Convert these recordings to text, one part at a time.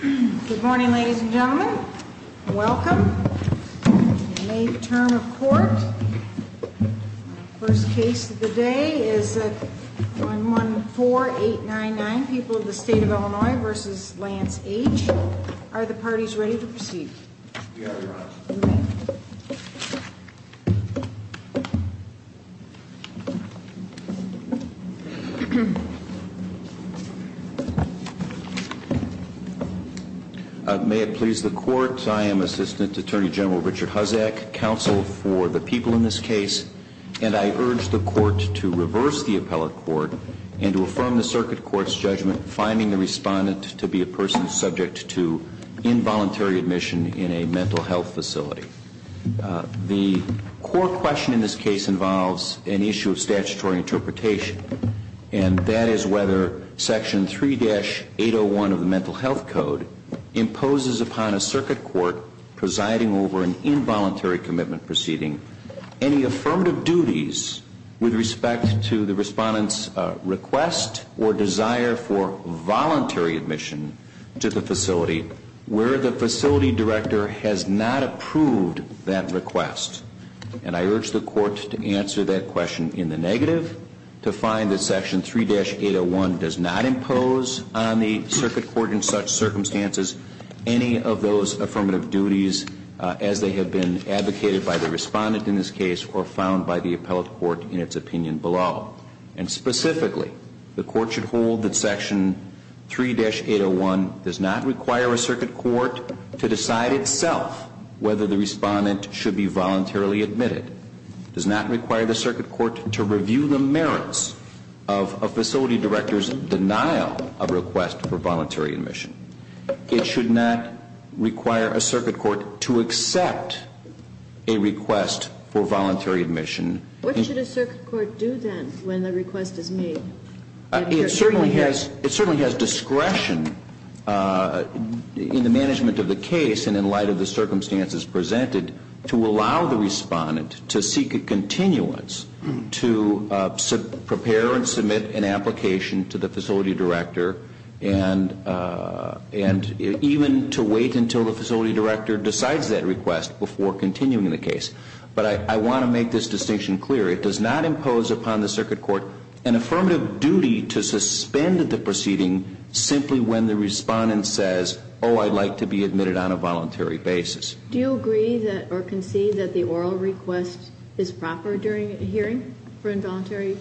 Good morning ladies and gentlemen. Welcome to the May term of court. First case of the day is 114899, People of the State of Illinois v. Lance H. Are the parties ready to proceed? We are, Your Honor. May it please the court, I am Assistant Attorney General Richard Huzak, counsel for the people in this case, and I urge the court to reverse the appellate court and to affirm the circuit court's judgment finding the respondent to be a person subject to involuntary admission in a mental health facility. The core question in this case involves an issue of statutory interpretation, and that is whether Section 3-801 of the Mental Health Code imposes upon a circuit court presiding over an involuntary commitment proceeding any affirmative duties with respect to the respondent's request or desire for voluntary admission to the facility where the facility director has not approved that request. And I urge the court to answer that question in the negative, to find that Section 3-801 does not impose on the circuit court in such circumstances any of those affirmative duties as they have been advocated by the respondent in this case or found by the appellate court in its opinion below. And specifically, the court should hold that Section 3-801 does not require a circuit court to decide itself whether the respondent should be voluntarily admitted. It does not require the circuit court to review the merits of a facility director's denial of request for voluntary admission. It should not require a circuit court to accept a request for voluntary admission. What should a circuit court do then when the request is made? It certainly has discretion in the management of the case and in light of the circumstances presented to allow the respondent to seek a continuance to prepare and submit an application to the facility director and even to wait until the facility director decides that request before continuing the case. But I want to make this distinction clear. It does not impose upon the circuit court an affirmative duty to suspend the proceeding simply when the respondent says, oh, I'd like to be admitted on a voluntary basis. Do you agree or concede that the oral request is proper during a hearing for involuntary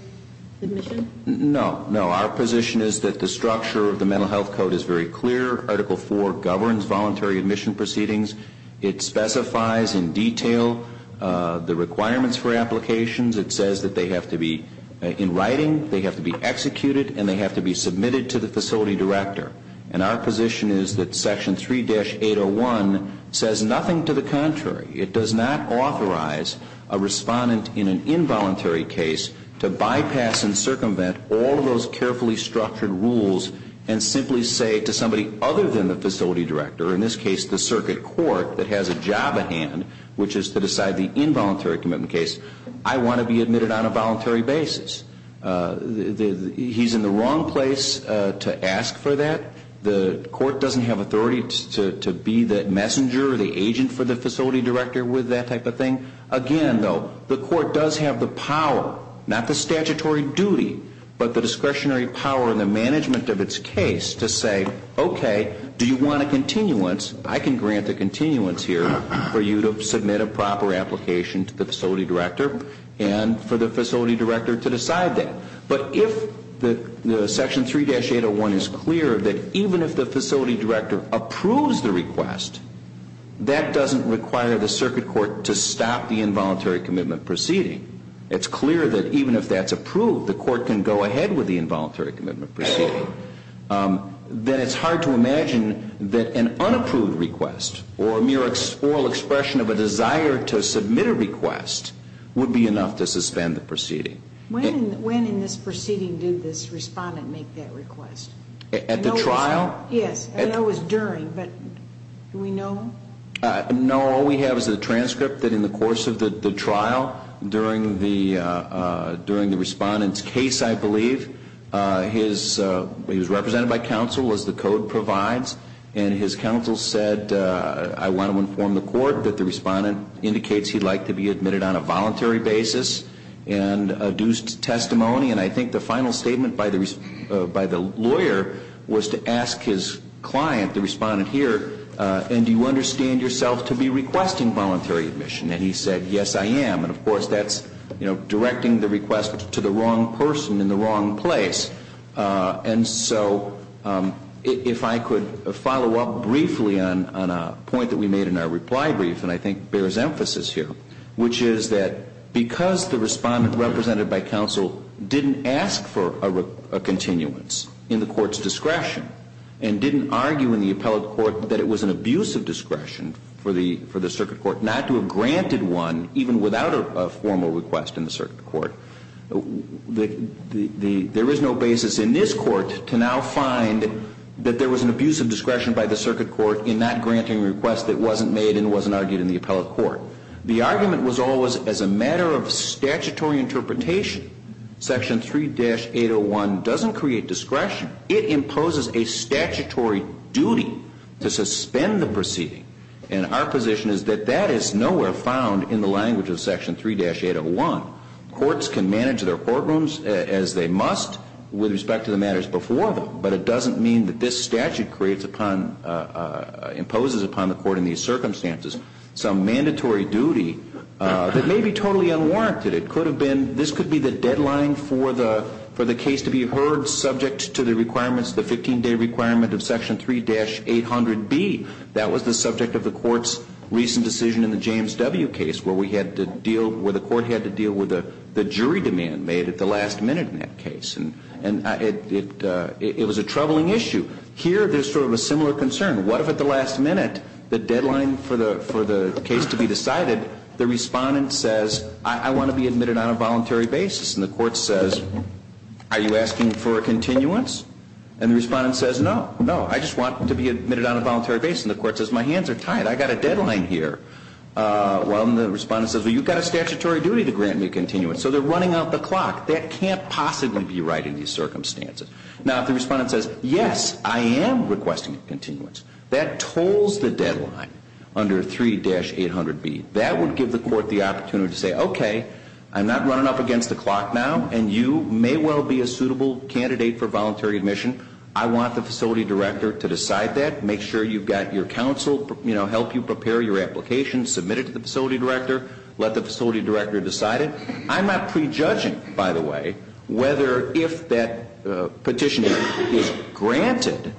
admission? No, no. Our position is that the structure of the Mental Health Code is very clear. Article 4 governs voluntary admission proceedings. It specifies in detail the requirements for applications. It says that they have to be in writing, they have to be executed, and they have to be submitted to the facility director. And our position is that Section 3-801 says nothing to the contrary. It does not authorize a respondent in an involuntary case to bypass and circumvent all of those carefully structured rules and simply say to somebody other than the facility director, in this case the circuit court that has a job at hand, which is to decide the involuntary commitment case, I want to be admitted on a voluntary basis. He's in the wrong place to ask for that. The court doesn't have authority to be the messenger or the agent for the facility director with that type of thing. Again, though, the court does have the power, not the statutory duty, but the discretionary power and the management of its case to say, okay, do you want a continuance? I can grant a continuance here for you to submit a proper application to the facility director and for the facility director to decide that. But if the Section 3-801 is clear that even if the facility director approves the request, that doesn't require the circuit court to stop the involuntary commitment proceeding. It's clear that even if that's approved, the court can go ahead with the involuntary commitment proceeding. Then it's hard to imagine that an unapproved request or a mere oral expression of a desire to submit a request would be enough to suspend the proceeding. When in this proceeding did this respondent make that request? At the trial? Yes, I know it was during, but do we know? No, all we have is a transcript that in the course of the trial, during the respondent's case, I believe, he was represented by counsel as the code provides, and his counsel said, I want to inform the court that the respondent indicates he'd like to be admitted on a voluntary basis and a due testimony, and I think the final statement by the lawyer was to ask his client, the respondent here, and do you understand yourself to be requesting voluntary admission? And he said, yes, I am. And of course, that's directing the request to the wrong person in the wrong place. And so if I could follow up briefly on a point that we made in our reply brief, and I think bears emphasis here, which is that because the respondent represented by counsel didn't ask for a continuance in the court's discretion and didn't argue in the appellate court that it was an abuse of discretion for the circuit court not to have granted one even without a formal request in the circuit court, there is no basis in this court to now find that there was an abuse of discretion by the circuit court in not granting a request that wasn't made and wasn't argued in the appellate court. The argument was always as a matter of statutory interpretation. Section 3-801 doesn't create discretion. It imposes a statutory duty to suspend the proceeding, and our position is that that is nowhere found in the language of Section 3-801. Courts can manage their courtrooms as they must with respect to the matters before them, but it doesn't mean that this statute creates upon, imposes upon the court in these circumstances, some mandatory duty that may be totally unwarranted. It could have been, this could be the deadline for the case to be heard subject to the requirements, the 15-day requirement of Section 3-800B. That was the subject of the court's recent decision in the James W. case where we had to deal, where the court had to deal with the jury demand made at the last minute in that case. And it was a troubling issue. Here there's sort of a similar concern. What if at the last minute the deadline for the case to be decided, the respondent says, I want to be admitted on a voluntary basis, and the court says, are you asking for a continuance? And the respondent says, no, no. I just want to be admitted on a voluntary basis. And the court says, my hands are tied. I've got a deadline here. Well, and the respondent says, well, you've got a statutory duty to grant me a continuance. So they're running out the clock. That can't possibly be right in these circumstances. Now, if the respondent says, yes, I am requesting a continuance, that tolls the deadline under 3-800B. That would give the court the opportunity to say, okay, I'm not running up against the clock now, and you may well be a suitable candidate for voluntary admission. I want the facility director to decide that, make sure you've got your counsel, you know, help you prepare your application, submit it to the facility director, let the facility director decide it. I'm not prejudging, by the way, whether if that petition is granted,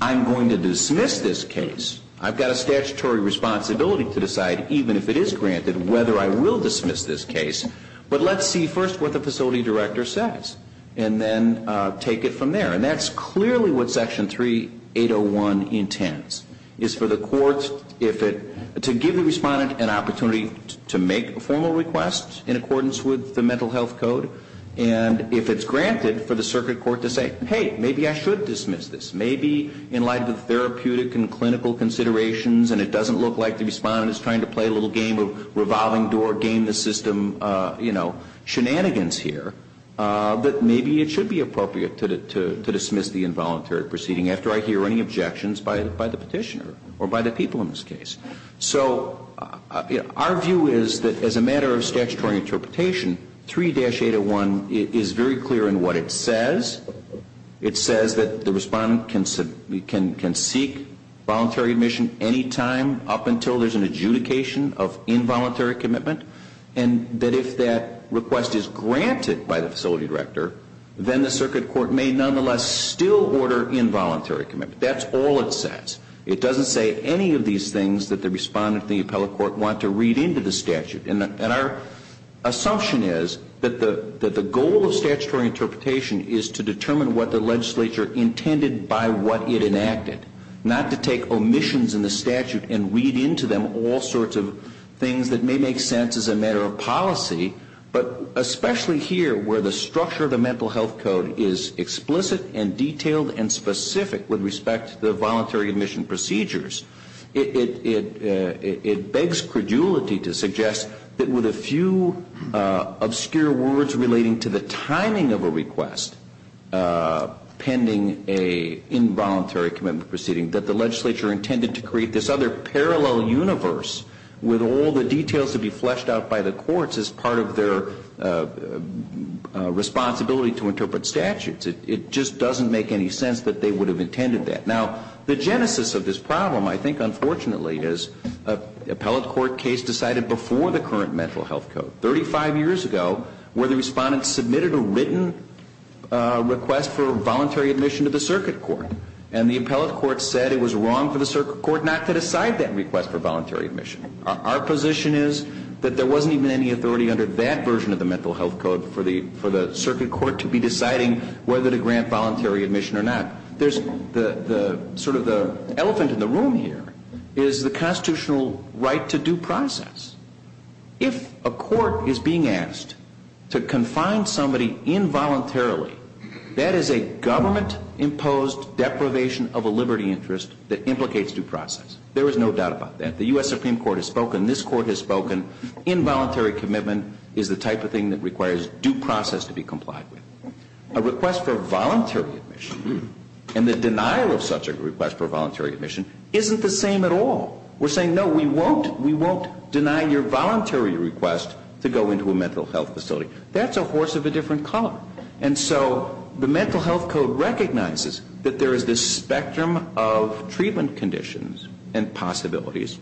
I'm going to dismiss this case. I've got a statutory responsibility to decide, even if it is granted, whether I will dismiss this case. But let's see first what the facility director says, and then take it from there. And that's clearly what Section 3801 intends, is for the court, if it, to give the respondent an opportunity to make a formal request in accordance with the mental health code. And if it's granted, for the circuit court to say, hey, maybe I should dismiss this. Maybe in light of the therapeutic and clinical considerations, and it doesn't look like the respondent is trying to play a little game of revolving door, or game the system, you know, shenanigans here, that maybe it should be appropriate to dismiss the involuntary proceeding after I hear any objections by the petitioner, or by the people in this case. So our view is that as a matter of statutory interpretation, 3-801 is very clear in what it says. It says that the respondent can seek voluntary admission any time, up until there's an adjudication of involuntary commitment. And that if that request is granted by the facility director, then the circuit court may nonetheless still order involuntary commitment. That's all it says. It doesn't say any of these things that the respondent and the appellate court want to read into the statute. And our assumption is that the goal of statutory interpretation is to determine what the legislature intended by what it enacted, not to take omissions in the statute and read into them all sorts of things that may make sense as a matter of policy. But especially here, where the structure of the mental health code is explicit and detailed and specific with respect to the voluntary admission procedures, it begs credulity to suggest that with a few obscure words relating to the timing of a request pending an involuntary commitment proceeding, that the legislature intended to create this other parallel universe with all the details to be fleshed out by the courts as part of their responsibility to interpret statutes. It just doesn't make any sense that they would have intended that. Now, the genesis of this problem, I think, unfortunately, is an appellate court case decided before the current mental health code, 35 years ago, where the respondent submitted a written request for voluntary admission to the circuit court. And the appellate court said it was wrong for the circuit court not to decide that request for voluntary admission. Our position is that there wasn't even any authority under that version of the mental health code for the circuit court to be deciding whether to grant voluntary admission or not. The elephant in the room here is the constitutional right to due process. If a court is being asked to confine somebody involuntarily, that is a government-imposed deprivation of a liberty interest that implicates due process. There is no doubt about that. The U.S. Supreme Court has spoken. This court has spoken. Involuntary commitment is the type of thing that requires due process to be complied with. A request for voluntary admission and the denial of such a request for voluntary admission isn't the same at all. We're saying, no, we won't deny your voluntary request to go into a mental health facility. That's a horse of a different color. And so the mental health code recognizes that there is this spectrum of treatment conditions and possibilities.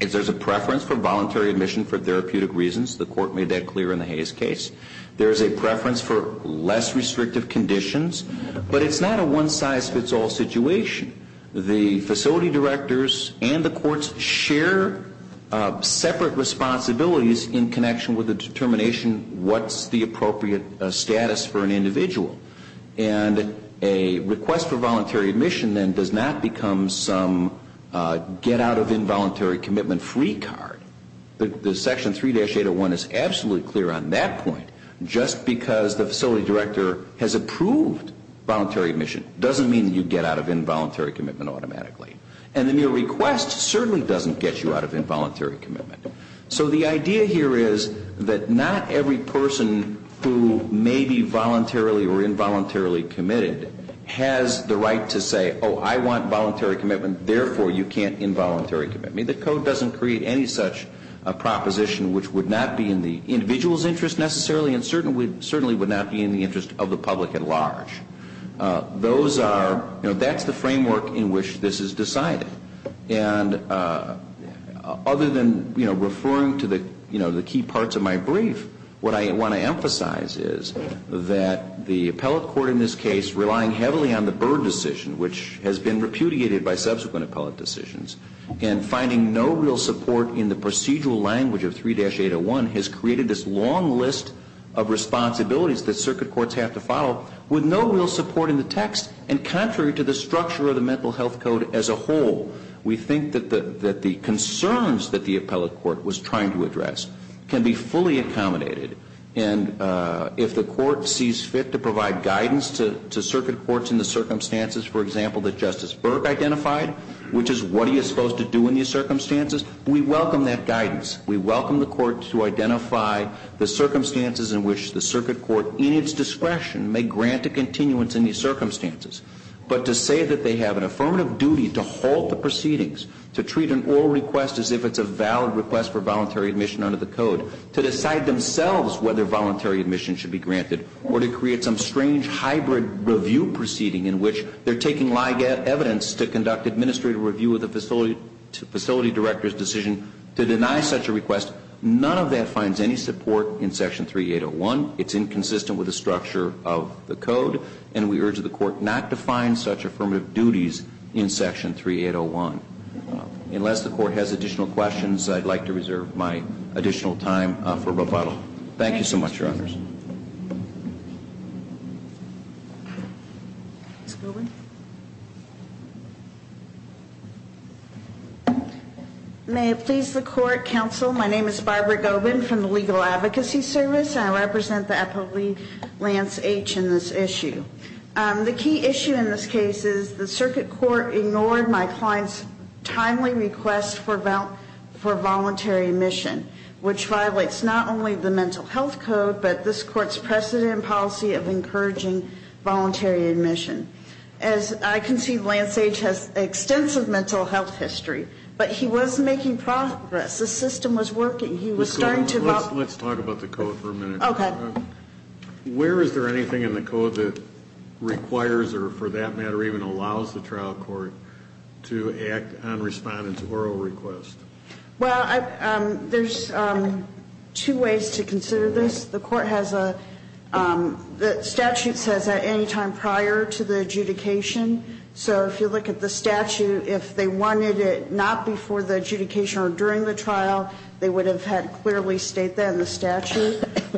If there's a preference for voluntary admission for therapeutic reasons, the court made that clear in the Hayes case, there is a preference for less restrictive conditions, but it's not a one-size-fits-all situation. The facility directors and the courts share separate responsibilities in connection with the determination, what's the appropriate status for an individual? And a request for voluntary admission then does not become some get-out-of-involuntary-commitment-free card. The section 3-801 is absolutely clear on that point. Just because the facility director has approved voluntary admission doesn't mean you get out of involuntary commitment automatically. And then your request certainly doesn't get you out of involuntary commitment. So the idea here is that not every person who may be voluntarily or involuntarily committed has the right to say, oh, I want voluntary commitment, therefore you can't involuntary commit me. The code doesn't create any such proposition which would not be in the individual's interest necessarily and certainly would not be in the interest of the public at large. Those are, you know, that's the framework in which this is decided. And other than, you know, referring to the, you know, the key parts of my brief, what I want to emphasize is that the appellate court in this case relying heavily on the Byrd decision, which has been repudiated by subsequent appellate decisions, and finding no real support in the procedural language of 3-801 has created this long list of responsibilities that circuit courts have to follow with no real support in the text. And contrary to the structure of the Mental Health Code as a whole, we think that the concerns that the appellate court was trying to address can be fully accommodated. And if the court sees fit to provide guidance to circuit courts in the circumstances, for example, that Justice Berg identified, which is what he is supposed to do in these circumstances, we welcome that guidance. We welcome the court to identify the circumstances in which the circuit court, in its discretion, may grant a continuance in these circumstances. But to say that they have an affirmative duty to halt the proceedings, to treat an oral request as if it's a valid request for voluntary admission under the code, to decide themselves whether voluntary admission should be granted, or to create some strange hybrid review proceeding in which they're taking lie evidence to conduct administrative review of the facility director's decision to deny such a request, none of that finds any support in Section 3-801. It's inconsistent with the structure of the code, and we urge the court not to find such affirmative duties in Section 3-801. Unless the court has additional questions, I'd like to reserve my additional time for rebuttal. Thank you so much, Your Honors. May it please the Court, Counsel. My name is Barbara Gobin from the Legal Advocacy Service, and I represent the appellee Lance H. in this issue. The key issue in this case is the circuit court ignored my client's timely request for voluntary admission, which violates not only the Mental Health Code, but this court's precedent and policy of encouraging voluntary admission. As I can see, Lance H. has extensive mental health history, but he was making progress. The system was working. He was starting to help. Let's talk about the code for a minute. Okay. Where is there anything in the code that requires or, for that matter, even allows the trial court to act on respondent's oral request? Well, there's two ways to consider this. The statute says at any time prior to the adjudication. So if you look at the statute, if they wanted it not before the adjudication or during the trial,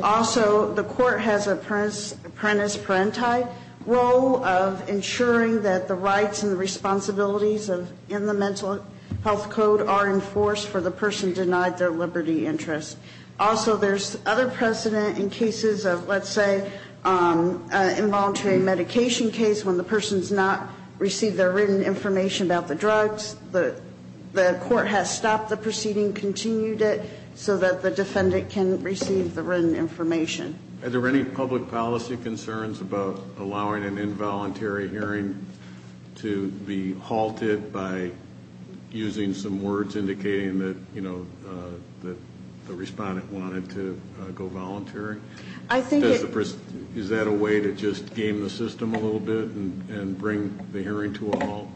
Also, the court has an apprentice-parenti role of ensuring that the rights and responsibilities in the Mental Health Code are enforced for the person denied their liberty interest. Also, there's other precedent in cases of, let's say, involuntary medication case when the person has not received their written information about the drugs. The court has stopped the proceeding, continued it, so that the defendant can receive the written information. Are there any public policy concerns about allowing an involuntary hearing to be halted by using some words indicating that the respondent wanted to go voluntary? Is that a way to just game the system a little bit and bring the hearing to a halt?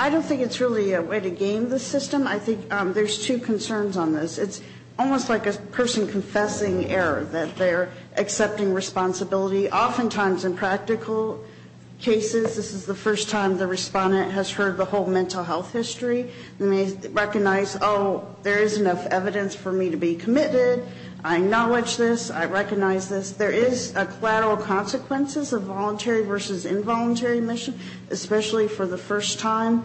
I don't think it's really a way to game the system. I think there's two concerns on this. It's almost like a person confessing error, that they're accepting responsibility. Oftentimes in practical cases, this is the first time the respondent has heard the whole mental health history and they recognize, oh, there is enough evidence for me to be committed. I acknowledge this. I recognize this. There is collateral consequences of voluntary versus involuntary admission, especially for the first time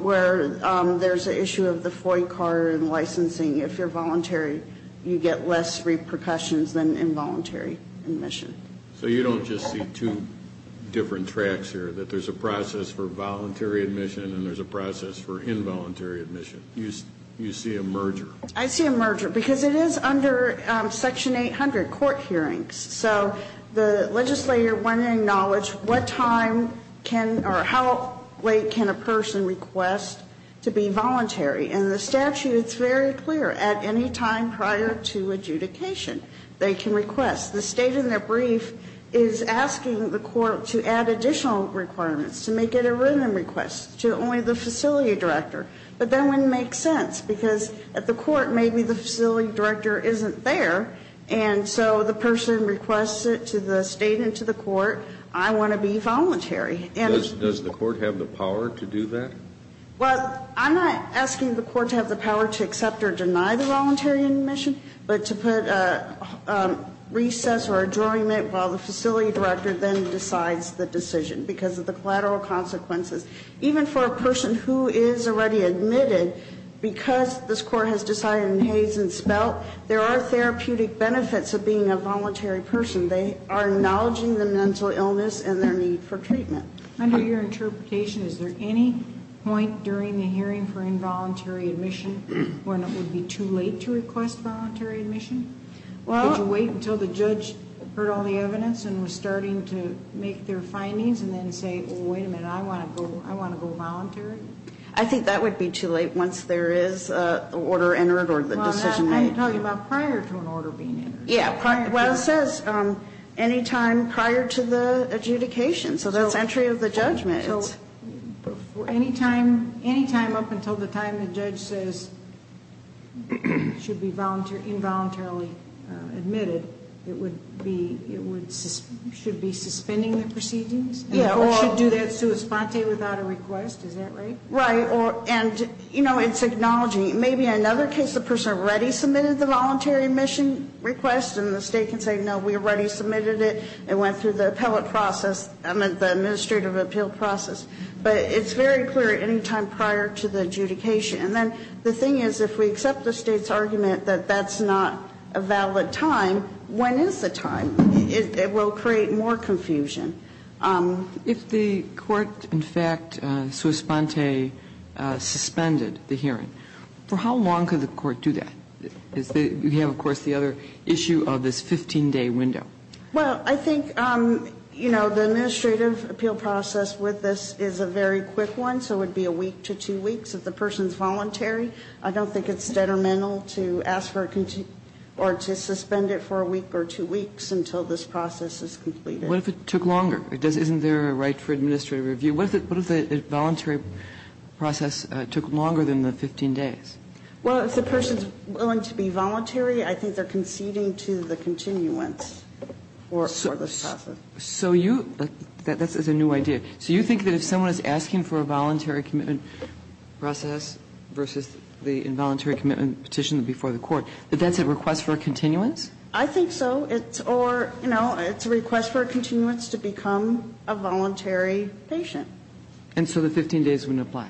where there's an issue of the FOIA card and licensing. If you're voluntary, you get less repercussions than involuntary admission. So you don't just see two different tracks here, that there's a process for voluntary admission and there's a process for involuntary admission? You see a merger? I see a merger because it is under Section 800, court hearings. So the legislator, when in knowledge, what time can or how late can a person request to be voluntary? In the statute, it's very clear. At any time prior to adjudication, they can request. The state in their brief is asking the court to add additional requirements, to make it a written request to only the facility director. But that wouldn't make sense because at the court, maybe the facility director isn't there and so the person requests it to the state and to the court. I want to be voluntary. Does the court have the power to do that? Well, I'm not asking the court to have the power to accept or deny the voluntary admission, but to put a recess or adjournment while the facility director then decides the decision because of the collateral consequences. Even for a person who is already admitted, because this court has decided in Hayes and Spelt, there are therapeutic benefits of being a voluntary person. They are acknowledging the mental illness and their need for treatment. Under your interpretation, is there any point during the hearing for involuntary admission when it would be too late to request voluntary admission? Well Did you wait until the judge heard all the evidence and was starting to make their findings and then say, oh, wait a minute, I want to go voluntary? I think that would be too late once there is an order entered or the decision made. Well, I'm talking about prior to an order being entered. Yeah. Well, it says any time prior to the adjudication. So that's entry of the judgment. Any time up until the time the judge says it should be involuntarily admitted, it should be suspending the proceedings? Yeah. Or should do that sua sponte without a request? Is that right? Right. And, you know, it's acknowledging. Maybe in another case the person already submitted the voluntary admission request and the State can say, no, we already submitted it. It went through the appellate process, I meant the administrative appeal process. But it's very clear any time prior to the adjudication. And then the thing is, if we accept the State's argument that that's not a valid time, when is the time? It will create more confusion. If the court, in fact, sua sponte suspended the hearing, for how long could the court do that? You have, of course, the other issue of this 15-day window. Well, I think, you know, the administrative appeal process with this is a very quick one, so it would be a week to two weeks. If the person is voluntary, I don't think it's detrimental to ask for a or to suspend it for a week or two weeks until this process is completed. What if it took longer? Isn't there a right for administrative review? What if the voluntary process took longer than the 15 days? Well, if the person is willing to be voluntary, I think they are conceding to the continuance for this process. So you, that's a new idea. So you think that if someone is asking for a voluntary commitment process versus the involuntary commitment petition before the court, that that's a request for a continuance? I think so. It's or, you know, it's a request for a continuance to become a voluntary patient. And so the 15 days wouldn't apply?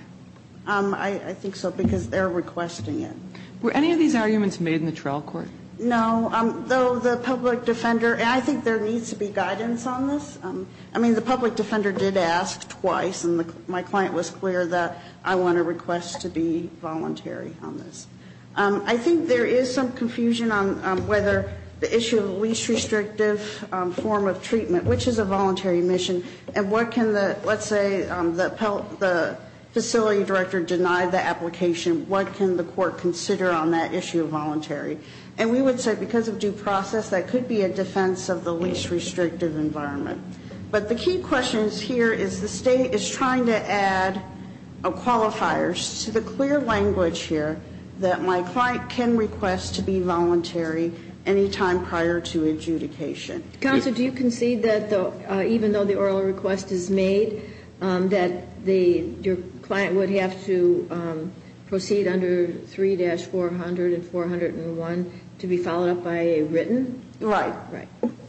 I think so, because they are requesting it. Were any of these arguments made in the trial court? No. Though the public defender, and I think there needs to be guidance on this. I mean, the public defender did ask twice, and my client was clear that I want a request to be voluntary on this. I think there is some confusion on whether the issue of least restrictive form of treatment, which is a voluntary mission, and what can the, let's say the facility director denied the application, what can the court consider on that issue of voluntary? And we would say because of due process, that could be a defense of the least restrictive environment. But the key question here is the State is trying to add qualifiers to the clear language here that my client can request to be voluntary any time prior to adjudication. Counsel, do you concede that even though the oral request is made, that your client would have to proceed under 3-400 and 401 to be followed up by a written? Right.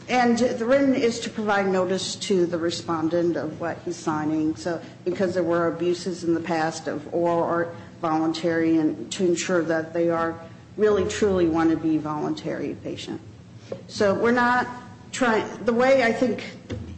And the written is to provide notice to the respondent of what he's signing. So because there were abuses in the past of oral or voluntary, and to ensure that they are really, truly want to be voluntary patient. So we're not trying, the way I think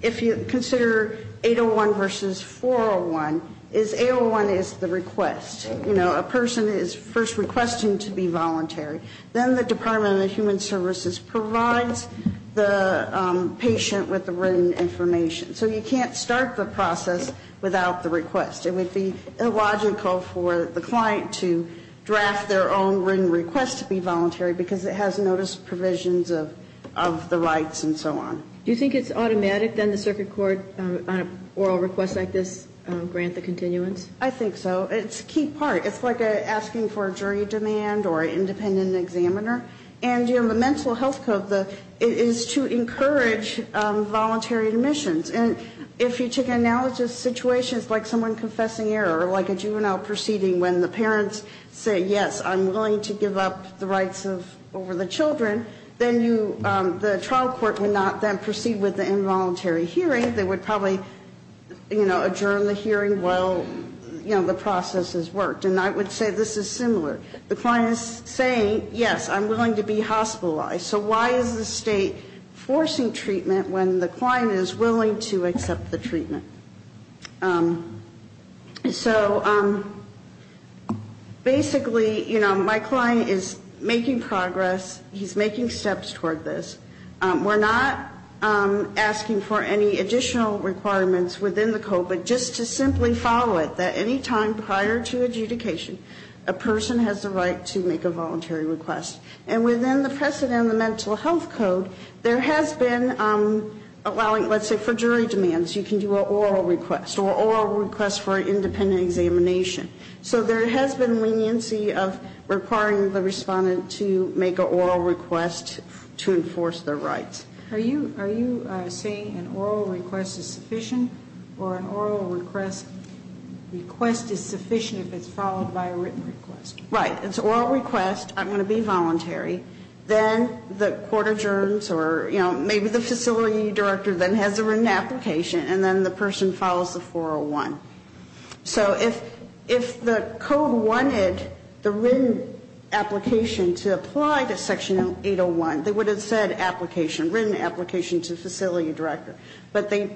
if you consider 801 versus 401, is 801 is the request. You know, a person is first requesting to be voluntary. Then the Department of Human Services provides the patient with the written information. So you can't start the process without the request. It would be illogical for the client to draft their own written request to be voluntary because it has notice provisions of the rights and so on. Do you think it's automatic then the circuit court on an oral request like this grant the continuance? I think so. It's a key part. It's like asking for a jury demand or an independent examiner. And, you know, the mental health code is to encourage voluntary admissions. And if you take analogous situations like someone confessing error or like a juvenile proceeding when the parents say, yes, I'm willing to give up the rights over the children, then the trial court would not then proceed with the involuntary hearing. They would probably, you know, adjourn the hearing while, you know, the process has worked. And I would say this is similar. The client is saying, yes, I'm willing to be hospitalized. So why is the state forcing treatment when the client is willing to accept the treatment? So basically, you know, my client is making progress. He's making steps toward this. We're not asking for any additional requirements within the code, but just to simply follow it that any time prior to adjudication, a person has the right to make a voluntary request. And within the precedent of the mental health code, there has been allowing, let's say, for jury demands, you can do an oral request or an oral request for an independent examination. So there has been leniency of requiring the respondent to make an oral request to enforce their rights. Are you saying an oral request is sufficient or an oral request is sufficient if it's followed by a written request? Right. It's an oral request. I'm going to be voluntary. Then the court adjourns or, you know, maybe the facility director then has a written application, and then the person follows the 401. So if the code wanted the written application to apply to Section 801, they would have said application, written application to facility director. But they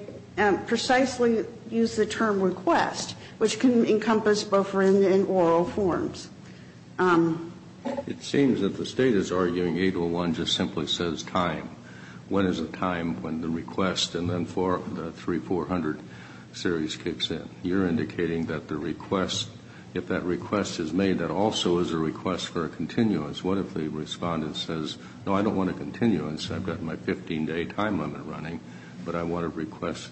precisely used the term request, which can encompass both written and oral forms. It seems that the State is arguing 801 just simply says time. When is a time when the request and then the 3400 series kicks in? You're indicating that the request, if that request is made, that also is a request for a continuance. What if the respondent says, no, I don't want a continuance. I've got my 15-day time limit running, but I want to request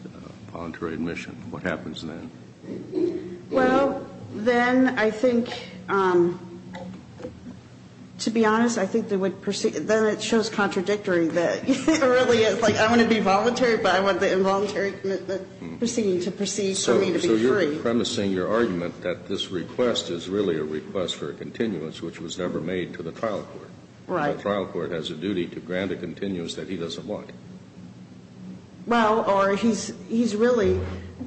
voluntary admission. What happens then? Well, then I think, to be honest, I think they would proceed. Then it shows contradictory that it really is. Like, I want to be voluntary, but I want the involuntary proceeding to proceed for me to be free. So you're premising your argument that this request is really a request for a continuance, which was never made to the trial court. Right. The trial court has a duty to grant a continuance that he doesn't want. Well, or he's really,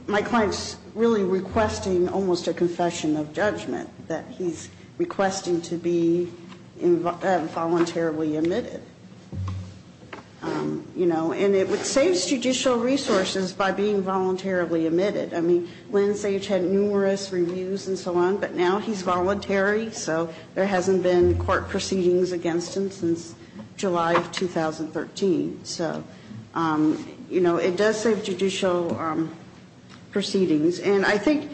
my client's really requesting almost a confession of judgment, that he's requesting to be involuntarily admitted. You know, and it would save judicial resources by being voluntarily admitted. I mean, Linsage had numerous reviews and so on, but now he's voluntary, so there You know, it does save judicial proceedings. And I think,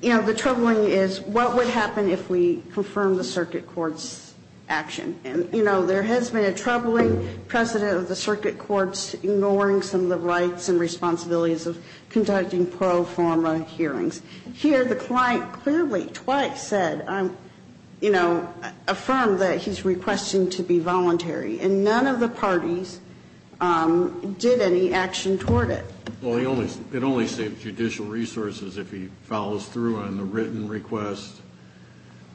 you know, the troubling is what would happen if we confirmed the circuit court's action. And, you know, there has been a troubling precedent of the circuit courts ignoring some of the rights and responsibilities of conducting pro forma hearings. Here the client clearly twice said, you know, affirmed that he's requesting to be voluntary. And none of the parties did any action toward it. Well, it only saves judicial resources if he follows through on the written request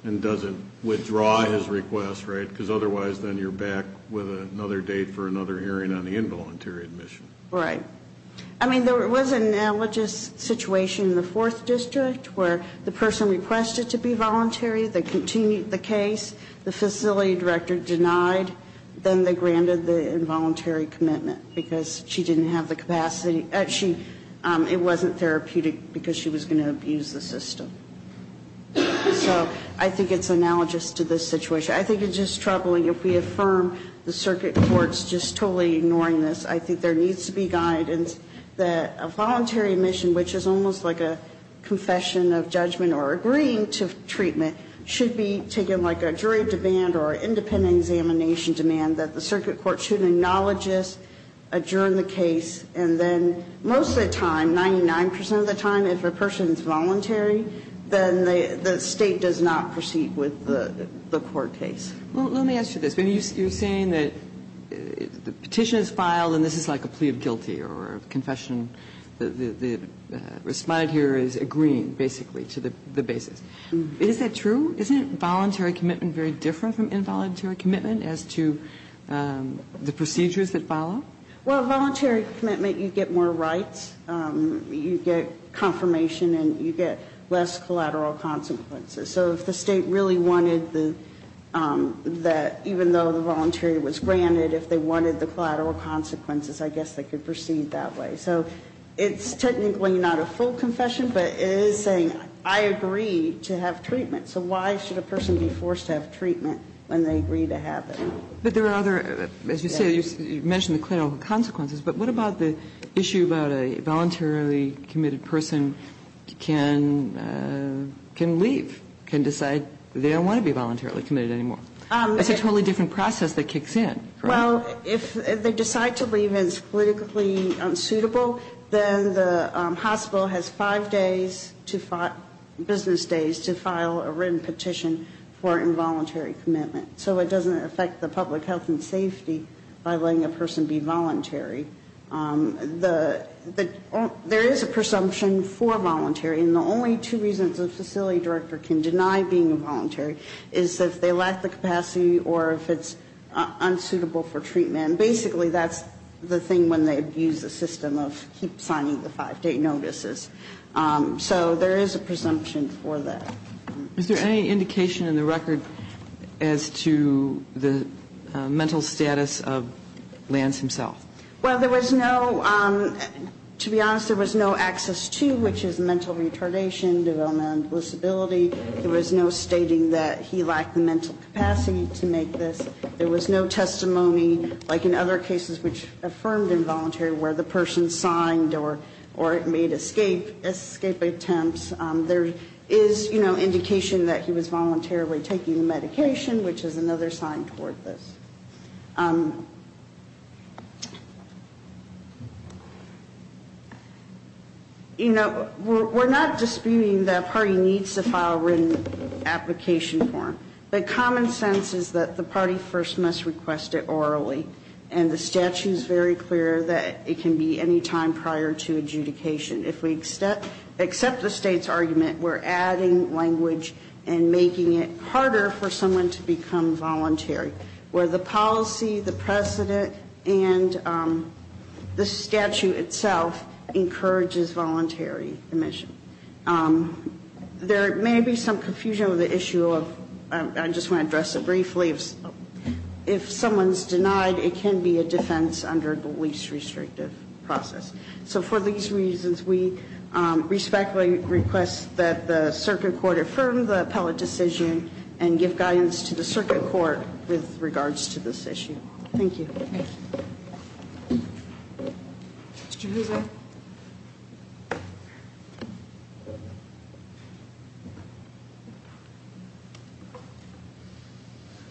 and doesn't withdraw his request, right? Because otherwise then you're back with another date for another hearing on the involuntary admission. Right. I mean, there was an analogous situation in the Fourth District where the person requested to be voluntary, they continued the case, the facility director denied then they granted the involuntary commitment because she didn't have the capacity and it wasn't therapeutic because she was going to abuse the system. So I think it's analogous to this situation. I think it's just troubling if we affirm the circuit court's just totally ignoring this. I think there needs to be guidance that a voluntary admission, which is almost like a confession of judgment or agreeing to treatment, should be taken like a jury demand or independent examination demand that the circuit court should acknowledge this, adjourn the case, and then most of the time, 99 percent of the time, if a person is voluntary, then the State does not proceed with the court case. Well, let me ask you this. You're saying that the petition is filed and this is like a plea of guilty or a confession that the Respondent here is agreeing, basically, to the basis. Is that true? Isn't voluntary commitment very different from involuntary commitment as to the procedures that follow? Well, voluntary commitment, you get more rights. You get confirmation and you get less collateral consequences. So if the State really wanted the, even though the voluntary was granted, if they wanted the collateral consequences, I guess they could proceed that way. So it's technically not a full confession, but it is saying I agree to have treatment, so why should a person be forced to have treatment when they agree to have it? But there are other, as you say, you mentioned the collateral consequences, but what about the issue about a voluntarily committed person can leave, can decide they don't want to be voluntarily committed anymore? It's a totally different process that kicks in, correct? Well, if they decide to leave and it's politically unsuitable, then the hospital has five business days to file a written petition for involuntary commitment. So it doesn't affect the public health and safety by letting a person be voluntary. There is a presumption for voluntary, and the only two reasons a facility director can deny being a voluntary is if they lack the capacity or if it's unsuitable for treatment. And basically that's the thing when they abuse the system of keep signing the five-day notices. So there is a presumption for that. Is there any indication in the record as to the mental status of Lance himself? Well, there was no, to be honest, there was no access to, which is mental retardation, developmental disability. There was no stating that he lacked the mental capacity to make this. There was no testimony, like in other cases which affirmed involuntary where the person signed or made escape attempts. There is indication that he was voluntarily taking the medication, which is another sign toward this. You know, we're not disputing that a party needs to file a written application form. But common sense is that the party first must request it orally. And the statute is very clear that it can be any time prior to adjudication. If we accept the state's argument, we're adding language and making it harder for someone to become voluntary, where the policy, the precedent, and the statute itself encourages voluntary admission. There may be some confusion with the issue of, I just want to address it briefly, if someone's denied, it can be a defense under the least restrictive process. So for these reasons, we respectfully request that the circuit court affirm the appellate decision and give guidance to the circuit court with regards to this issue. Thank you. Thank you. Mr. Husserl.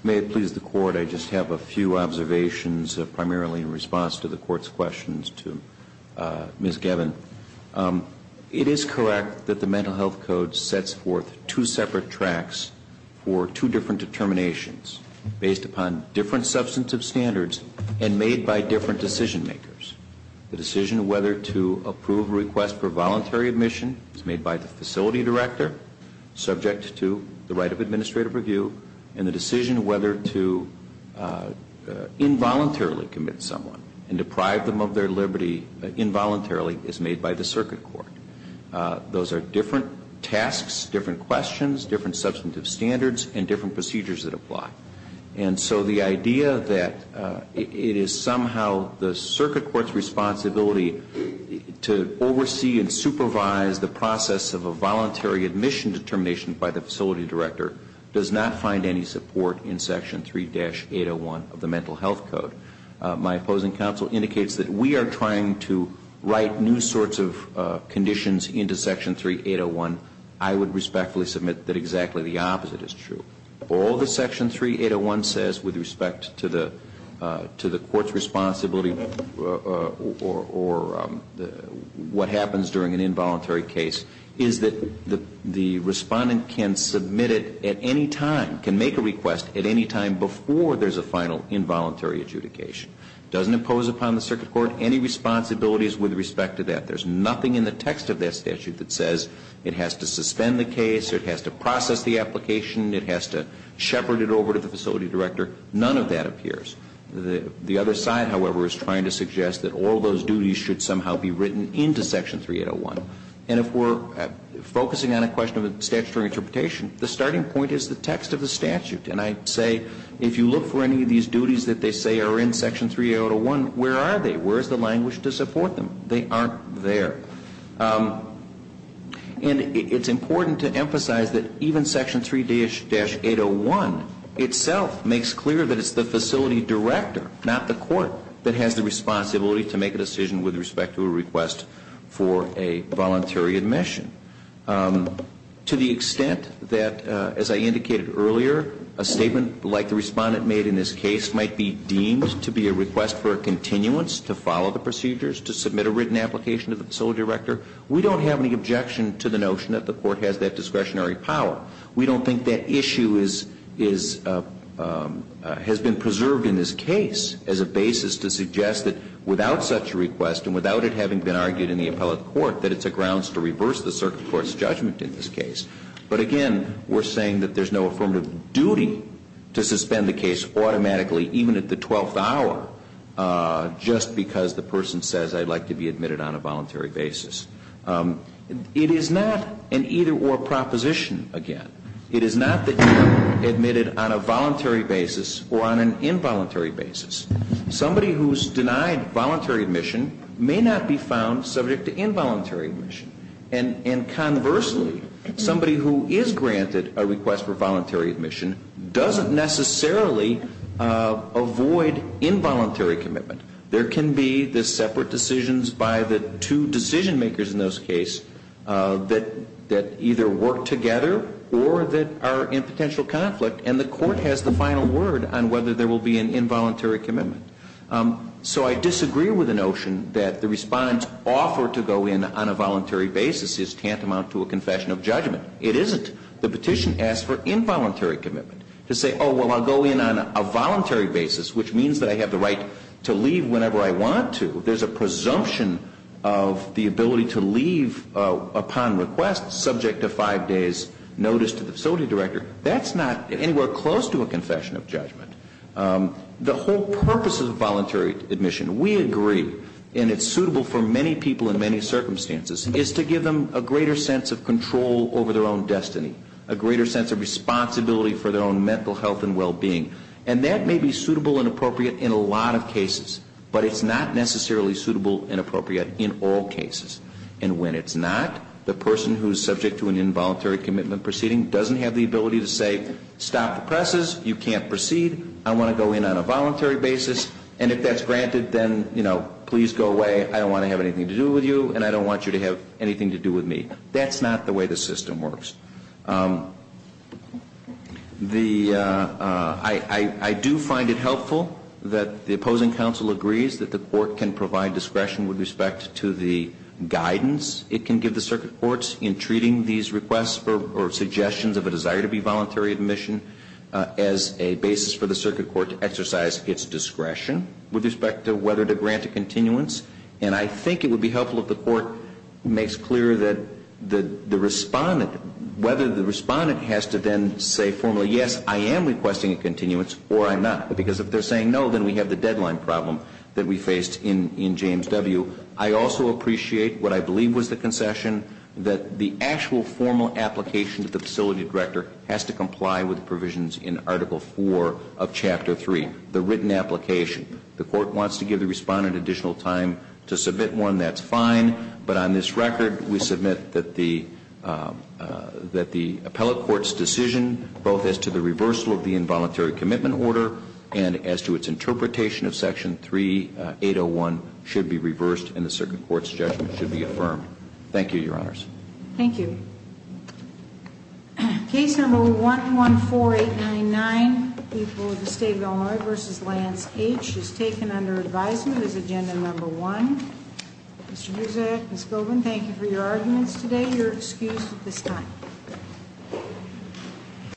May it please the court, I just have a few observations, primarily in response to the court's questions to Ms. Gavin. It is correct that the Mental Health Code sets forth two separate tracks for two different determinations based upon different substantive standards and made by different decision makers. The decision whether to approve a request for voluntary admission is made by the facility director, subject to the right of administrative review. And the decision whether to involuntarily commit someone and deprive them of their liberty involuntarily is made by the circuit court. Those are different tasks, different questions, different substantive standards, and different procedures that apply. And so the idea that it is somehow the circuit court's responsibility to oversee and supervise the process of a voluntary admission determination by the facility director does not find any support in Section 3-801 of the Mental Health Code. My opposing counsel indicates that we are trying to write new sorts of conditions into Section 3-801. I would respectfully submit that exactly the opposite is true. All that Section 3-801 says with respect to the court's responsibility or what happens during an involuntary case is that the respondent can submit it at any time, can make a request at any time before there's a final involuntary adjudication. It doesn't impose upon the circuit court any responsibilities with respect to that. There's nothing in the text of that statute that says it has to suspend the case or it has to process the application, it has to shepherd it over to the facility director. None of that appears. The other side, however, is trying to suggest that all those duties should somehow be written into Section 3-801. And if we're focusing on a question of statutory interpretation, the starting point is the text of the statute. And I say if you look for any of these duties that they say are in Section 3-801, where are they? Where is the language to support them? They aren't there. And it's important to emphasize that even Section 3-801 itself makes clear that it's the facility director, not the court, that has the responsibility to make a decision with respect to a request for a voluntary admission. To the extent that, as I indicated earlier, a statement like the respondent made in this case might be deemed to be a request for a continuance, to follow the procedures, to submit a written application to the facility director, we don't have any objection to the notion that the court has that discretionary power. We don't think that issue has been preserved in this case as a basis to suggest that without such a request and without it having been argued in the appellate court, that it's a grounds to reverse the circuit court's judgment in this case. But again, we're saying that there's no affirmative duty to suspend the case automatically, even at the twelfth hour, just because the person says, I'd like to be admitted on a voluntary basis. It is not an either-or proposition again. It is not that you're admitted on a voluntary basis or on an involuntary basis. Somebody who's denied voluntary admission may not be found subject to involuntary admission. And conversely, somebody who is granted a request for voluntary admission doesn't necessarily avoid involuntary commitment. There can be the separate decisions by the two decision-makers in this case that either work together or that are in potential conflict. And the court has the final word on whether there will be an involuntary commitment. So I disagree with the notion that the respondent's offer to go in on a voluntary basis is tantamount to a confession of judgment. It isn't. The petition asks for involuntary commitment, to say, oh, well, I'll go in on a voluntary basis, which means that I have the right to leave whenever I want to. There's a presumption of the ability to leave upon request, subject to five days' notice to the facility director. That's not anywhere close to a confession of judgment. The whole purpose of voluntary admission, we agree, and it's suitable for many people in many circumstances, is to give them a greater sense of control over their own destiny, a greater sense of responsibility for their own mental health and well-being. And that may be suitable and appropriate in a lot of cases, but it's not necessarily suitable and appropriate in all cases. And when it's not, the person who's subject to an involuntary commitment proceeding doesn't have the ability to say, stop the presses, you can't proceed, I want to go in on a voluntary basis, and if that's granted, then, you know, please go away, I don't want to have anything to do with you, and I don't want you to have anything to do with me. That's not the way the system works. I do find it helpful that the opposing counsel agrees that the court can provide discretion with respect to the guidance it can give the circuit courts in treating these requests or suggestions of a desire to be voluntary admission as a basis for the circuit court to exercise its discretion with respect to whether to grant a continuance. And I think it would be helpful if the court makes clear that the respondent, whether the respondent has to then say formally, yes, I am requesting a continuance, or I'm not. Because if they're saying no, then we have the deadline problem that we faced in James W. I also appreciate what I believe was the concession, that the actual formal application to the facility director has to comply with provisions in Article 4 of Chapter 3, the written application. The court wants to give the respondent additional time to submit one, that's fine. But on this record, we submit that the appellate court's decision both as to the reversal of the involuntary commitment order and as to its interpretation of Section 3801 should be reversed and the circuit court's judgment should be affirmed. Thank you, Your Honors. Thank you. Case number 114899, people of the State of Illinois v. Lance H. is taken under advisement as agenda number one. Mr. Buziak, Ms. Colvin, thank you for your arguments today. You're excused at this time.